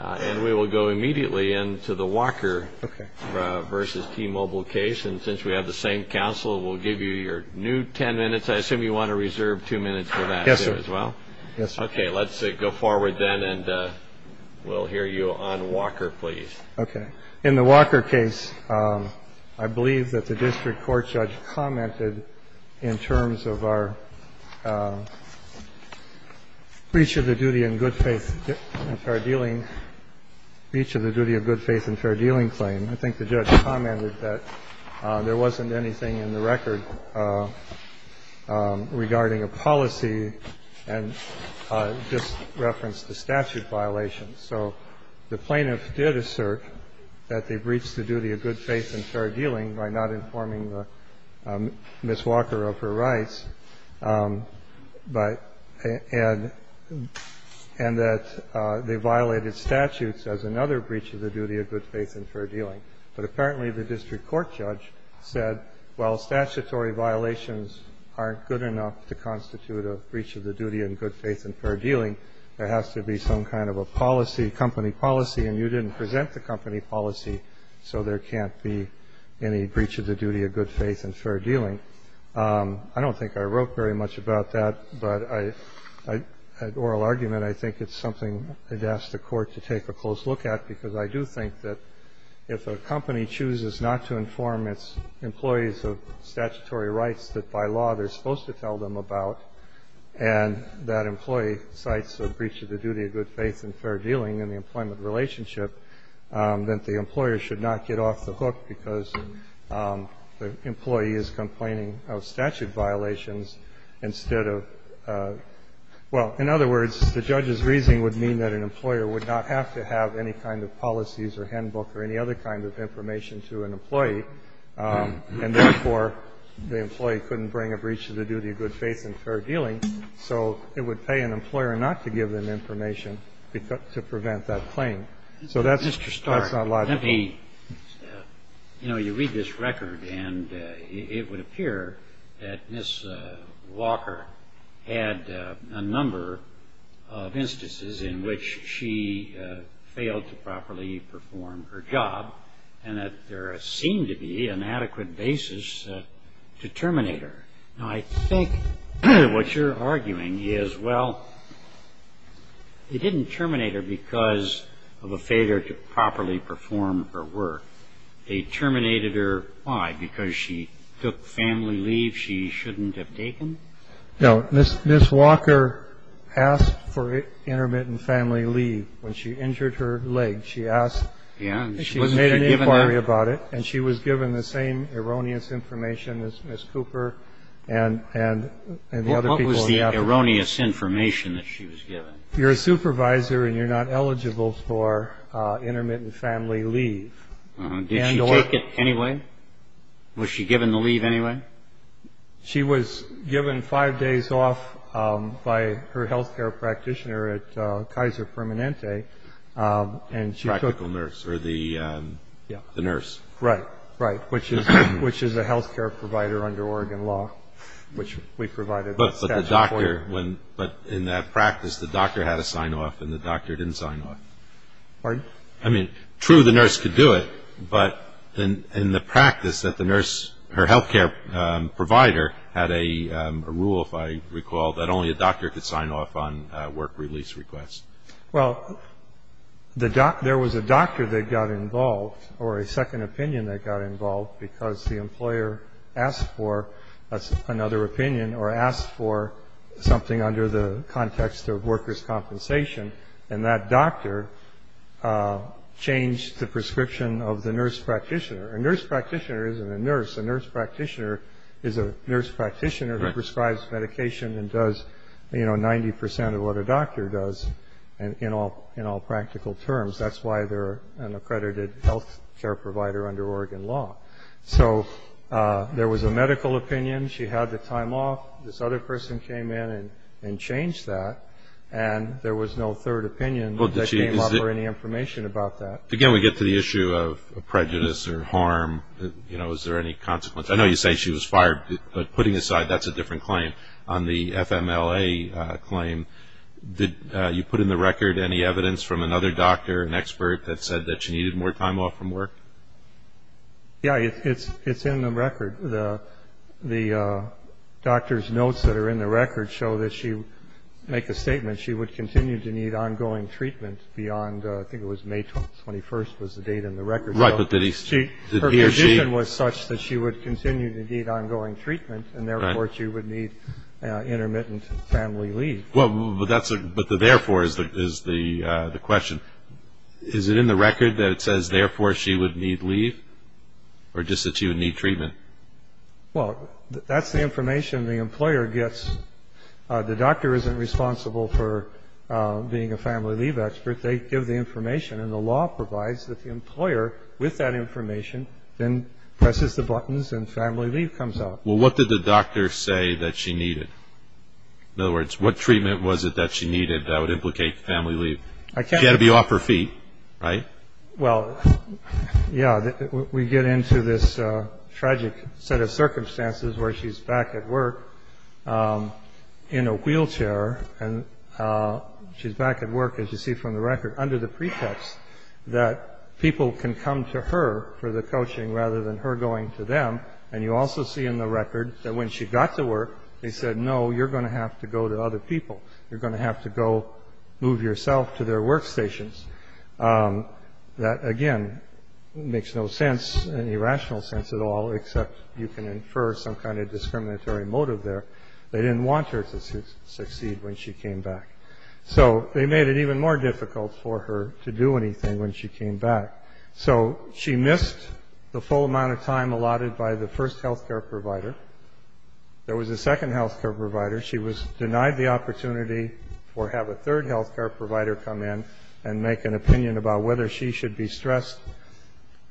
And we will go immediately into the Walker v. T-Mobile case. And since we have the same counsel, we'll give you your new 10 minutes. I assume you want to reserve two minutes for that, too, as well? Yes, sir. Okay. Let's go forward, then, and we'll hear you on Walker, please. Okay. In the Walker case, I believe that the district court judge commented in terms of our breach of the duty of good faith and fair dealing claim. I think the judge commented that there wasn't anything in the record regarding a policy and just referenced a statute violation. So the plaintiff did assert that they breached the duty of good faith and fair dealing by not informing Ms. Walker of her rights, and that they violated statutes as another breach of the duty of good faith and fair dealing. But apparently, the district court judge said, well, statutory violations aren't good enough to constitute a breach of the duty of good faith and fair dealing. There has to be some kind of a policy, company policy, and you didn't present the company policy, so there can't be any breach of the duty of good faith and fair dealing. I don't think I wrote very much about that, but I had oral argument. I think it's something I'd ask the court to take a close look at, because I do think that if a company chooses not to inform its employees of statutory rights that, by law, they're supposed to tell them about, and that employee cites a breach of the duty of good faith and fair dealing in the employment relationship, that the employer should not get off the hook because the employee is complaining of statute violations instead of – well, in other words, the judge's reasoning would mean that an employer would not have to have any kind of policies or handbook or any other kind of information to an employee, and therefore, the employee couldn't bring a breach of the duty of good faith and fair dealing, so it would pay an employer not to give them information to prevent that claim. So that's not logical. Mr. Starr, let me – you know, you read this record, and it would appear that Ms. Walker had a number of instances in which she failed to properly perform her job and that there seemed to be an adequate basis to terminate her. Now, I think what you're arguing is, well, they didn't terminate her because of a failure to properly perform her work. They terminated her why? Because she took family leave she shouldn't have taken? No. Ms. Walker asked for intermittent family leave when she injured her leg. She asked – she made an inquiry about it, and she was given the same erroneous information as Ms. Cooper and the other people in the office. Well, what was the erroneous information that she was given? You're a supervisor, and you're not eligible for intermittent family leave. Did she take it anyway? Was she given the leave anyway? She was given five days off by her health care practitioner at Kaiser Permanente, Practical nurse, or the nurse. Right, right, which is a health care provider under Oregon law, which we provided. But in that practice, the doctor had a sign-off and the doctor didn't sign off. Pardon? I mean, true, the nurse could do it, but in the practice that the nurse, her health care provider, had a rule, if I recall, that only a doctor could sign off on work release requests. Well, there was a doctor that got involved, or a second opinion that got involved, because the employer asked for another opinion, or asked for something under the context of workers' compensation. And that doctor changed the prescription of the nurse practitioner. A nurse practitioner isn't a nurse. A nurse practitioner is a nurse practitioner who prescribes medication and does 90% of what a doctor does in all practical terms. That's why they're an accredited health care provider under Oregon law. So there was a medical opinion. She had the time off. This other person came in and changed that. And there was no third opinion that came up or any information about that. Again, we get to the issue of prejudice or harm. Is there any consequence? I know you say she was fired, but putting aside, that's a different claim. On the FMLA claim, did you put in the record any evidence from another doctor, an expert, that said that she needed more time off from work? Yeah, it's in the record. The doctor's notes that are in the record show that she would make a statement. She would continue to need ongoing treatment beyond, I think it was May 21st was the date in the record. Right, but did she? Her condition was such that she would continue to need ongoing treatment, and therefore, she would need intermittent family leave. Well, but that's a, but the therefore is the question. Is it in the record that it says, therefore, she would need leave? Or just that she would need treatment? Well, that's the information the employer gets. The doctor isn't responsible for being a family leave expert. They give the information. And the law provides that the employer, with that information, then presses the buttons and family leave comes out. Well, what did the doctor say that she needed? In other words, what treatment was it that she needed that would implicate family leave? She had to be off her feet, right? Well, yeah, we get into this tragic set of circumstances where she's back at work in a wheelchair. And she's back at work, as you see from the record, under the pretext that people can come to her for the coaching rather than her going to them. And you also see in the record that when she got to work, they said, no, you're going to have to go to other people. You're going to have to go move yourself to their workstations. That, again, makes no sense, any rational sense at all, except you can infer some kind of discriminatory motive there. They didn't want her to succeed when she came back. So they made it even more difficult for her to do anything when she came back. So she missed the full amount of time allotted by the first health care provider. There was a second health care provider. She was denied the opportunity to have a third health care provider come in and make an opinion about whether she should be stressed,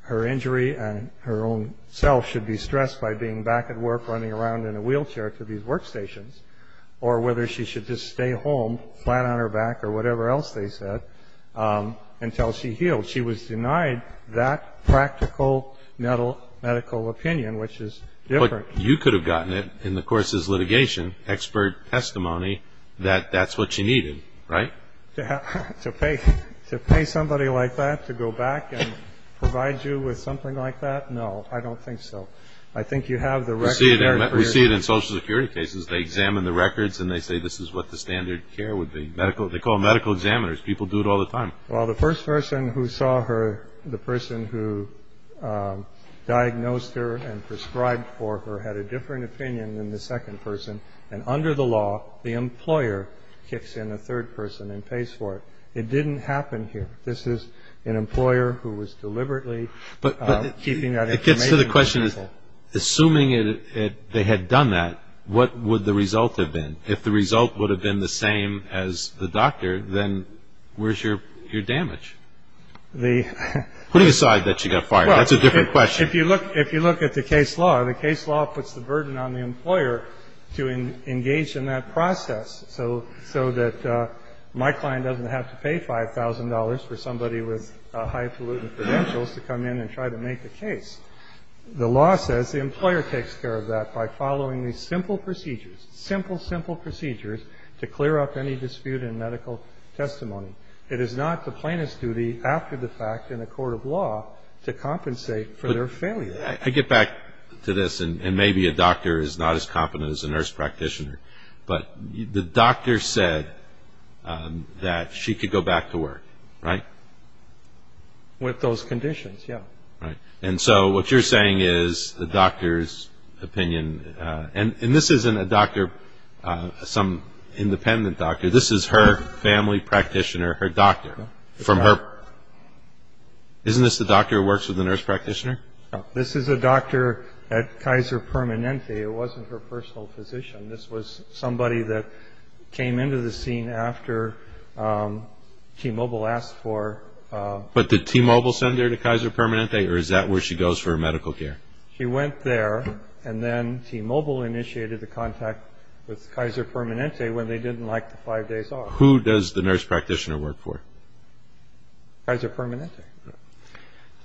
her injury and her own self should be stressed by being back at work running around in a wheelchair to these workstations, or whether she should just stay home, flat on her back or whatever else they said, until she healed. She was denied that practical medical opinion, which is different. But you could have gotten it in the course's litigation, expert testimony that that's what you needed, right? To pay somebody like that to go back and provide you with something like that? No, I don't think so. I think you have the record. We see it in social security cases. They examine the records and they say this is what the standard care would be. They call them medical examiners. People do it all the time. Well, the first person who saw her, the person who diagnosed her and prescribed for her, had a different opinion than the second person. And under the law, the employer kicks in a third person and pays for it. It didn't happen here. This is an employer who was deliberately keeping that information to herself. But the question is, assuming they had done that, what would the result have been? If the result would have been the same as the doctor, then where's your damage? Putting aside that she got fired, that's a different question. Well, if you look at the case law, the case law puts the burden on the employer to engage in that process so that my client doesn't have to pay $5,000 for somebody with high pollutant credentials to come in and try to make the case. by following these simple procedures, simple, simple testimony. It is not the plaintiff's duty, after the fact, in a court of law, to compensate for their failure. I get back to this, and maybe a doctor is not as competent as a nurse practitioner. But the doctor said that she could go back to work, right? With those conditions, yeah. And so what you're saying is the doctor's opinion, and this isn't a doctor, some independent doctor. This is her family practitioner, her doctor, from her. Isn't this the doctor who works with the nurse practitioner? This is a doctor at Kaiser Permanente. It wasn't her personal physician. This was somebody that came into the scene after T-Mobile asked for. But did T-Mobile send her to Kaiser Permanente, or is that where she goes for medical care? She went there, and then T-Mobile initiated the contact with Kaiser Permanente when they didn't like the five days off. Who does the nurse practitioner work for? Kaiser Permanente.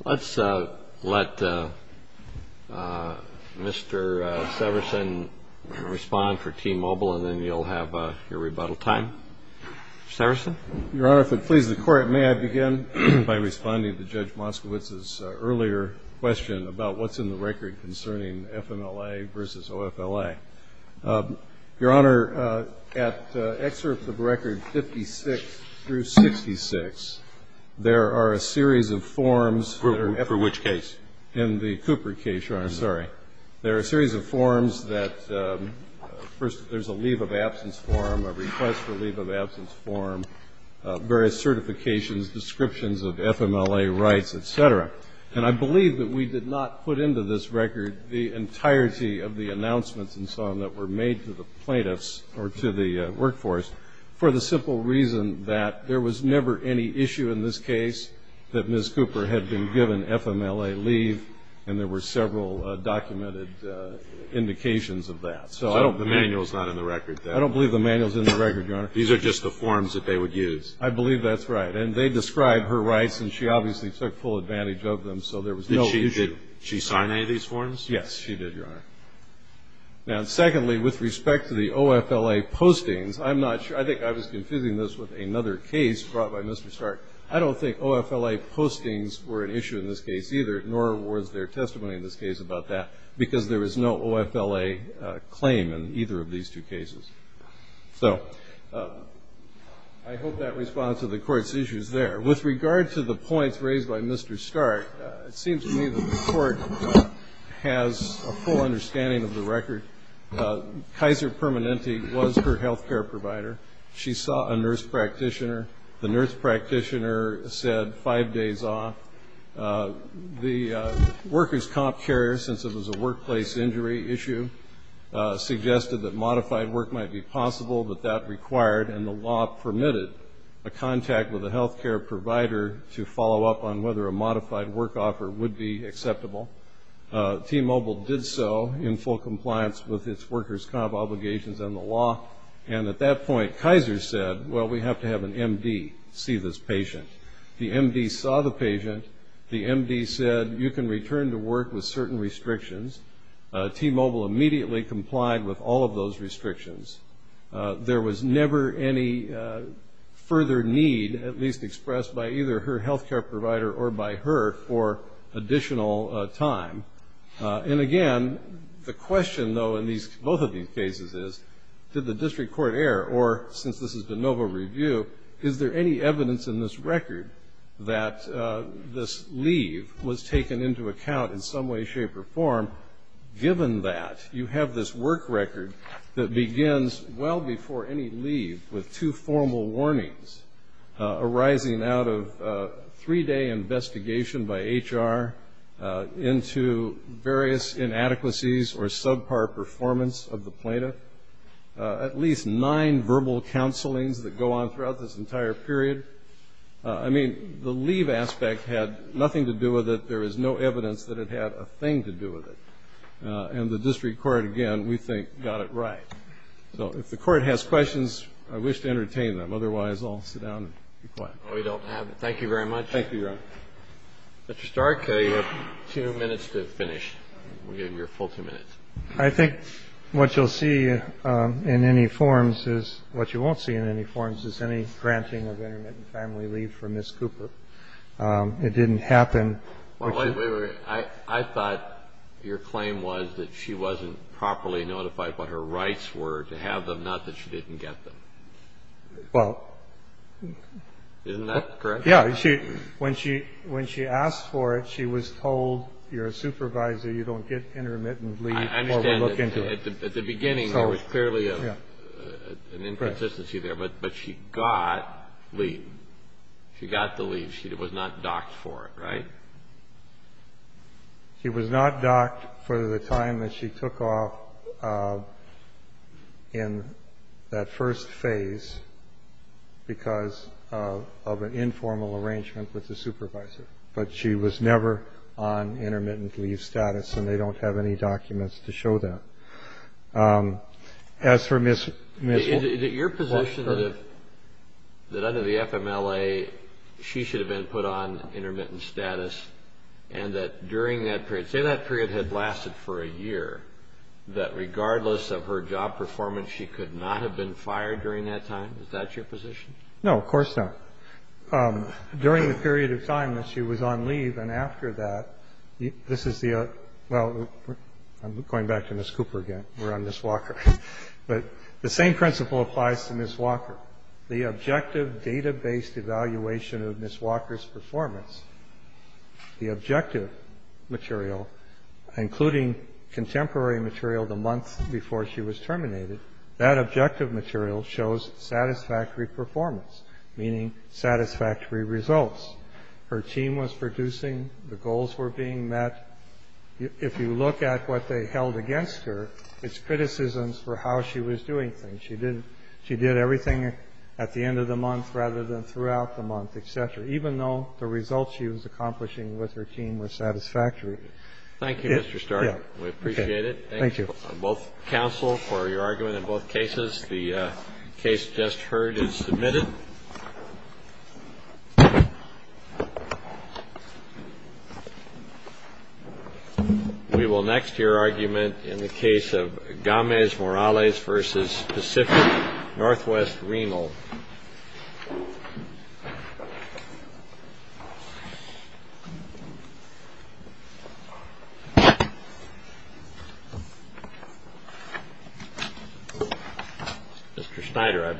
Let's let Mr. Severson respond for T-Mobile, and then you'll have your rebuttal time. Mr. Severson? Your Honor, if it pleases the Court, may I begin by responding to Judge Moskowitz's earlier question about what's in the record concerning FMLA versus OFLA? Your Honor, at excerpts of record 56 through 66, there are a series of forms that are For which case? In the Cooper case, Your Honor. Sorry. There are a series of forms that, first, there's a leave of absence form, a request for leave of absence form, various certifications, descriptions of FMLA rights, et cetera. And I believe that we did not put into this record the entirety of the announcements and so on that were made to the plaintiffs or to the workforce for the simple reason that there was never any issue in this case that Ms. Cooper had been given FMLA leave, and there were several documented indications of that. So I don't believe the manual's not in the record. I don't believe the manual's in the record, Your Honor. These are just the forms that they would use. I believe that's right. And they describe her rights, and she obviously took full advantage of them, so there was no issue. Did she sign any of these forms? Yes, she did, Your Honor. Now, secondly, with respect to the OFLA postings, I'm not sure. I think I was confusing this with another case brought by Mr. Stark. I don't think OFLA postings were an issue in this case either, nor was there testimony in this case about that, because there was no OFLA claim in either of these two cases. So I hope that responds to the Court's issues there. With regard to the points raised by Mr. Stark, it seems to me that the Court has a full understanding of the record. Kaiser Permanente was her health care provider. She saw a nurse practitioner. The nurse practitioner said five days off. The workers' comp carrier, since it was a workplace injury issue, suggested that modified work might be possible, but that required, and the law permitted, a contact with a health care provider to follow up on whether a modified work offer would be acceptable. T-Mobile did so in full compliance with its workers' comp obligations and the law. And at that point, Kaiser said, well, we have to have an MD see this patient. The MD saw the patient. The MD said, you can return to work with certain restrictions. T-Mobile immediately complied with all of those restrictions. There was never any further need, at least expressed by either her health care provider or by her, for additional time. And again, the question, though, in both of these cases is, did the district court err? Or, since this is de novo review, is there any evidence in this record that this leave was taken into account in some way, shape, or form, given that you have this work record that begins well before any leave with two formal warnings arising out of a three-day investigation by HR into various inadequacies or subpar performance of the plaintiff, at least nine verbal counselings that go on throughout this entire period? I mean, the leave aspect had nothing to do with it. There is no evidence that it had a thing to do with it. And the district court, again, we think, got it right. So if the court has questions, I wish to entertain them. Otherwise, I'll sit down and be quiet. Thank you very much. Thank you, Your Honor. Mr. Stark, you have two minutes to finish. We'll give you your full two minutes. I think what you'll see in any forms is, what you won't see in any forms, is any granting of intermittent family leave for Ms. Cooper. It didn't happen. I thought your claim was that she wasn't properly notified what her rights were to have them, not that she didn't get them. Well. Isn't that correct? Yeah. When she asked for it, she was told, you're a supervisor. You don't get intermittent leave or we'll look into it. At the beginning, there was clearly an inconsistency there. But she got leave. She got the leave. She was not docked for it, right? She was not docked for the time that she took off in that first phase because of an informal arrangement with the supervisor. But she was never on intermittent leave status, and they don't have any documents to show that. As for Ms. Cooper. Is it your position that under the FMLA, she should have been put on intermittent status and that during that period, say that period had lasted for a year, that regardless of her job performance, she could not have been fired during that time? Is that your position? No, of course not. During the period of time that she was on leave and after that, this is the, well, I'm going back to Ms. Cooper again. We're on Ms. Walker. But the same principle applies to Ms. Walker. The objective data-based evaluation of Ms. Walker's performance, the objective material, including contemporary material the month before she was terminated, that objective material shows satisfactory performance, meaning satisfactory results. Her team was producing, the goals were being met. If you look at what they held against her, it's criticisms for how she was doing things. rather than throughout the month, et cetera, even though the results she was accomplishing with her team were satisfactory. Thank you, Mr. Stark. We appreciate it. Thank you. Both counsel for your argument in both cases. The case just heard is submitted. We will next hear argument in the case of Gomez Morales versus Pacific Northwest Renal. Mr. Schneider, I believe.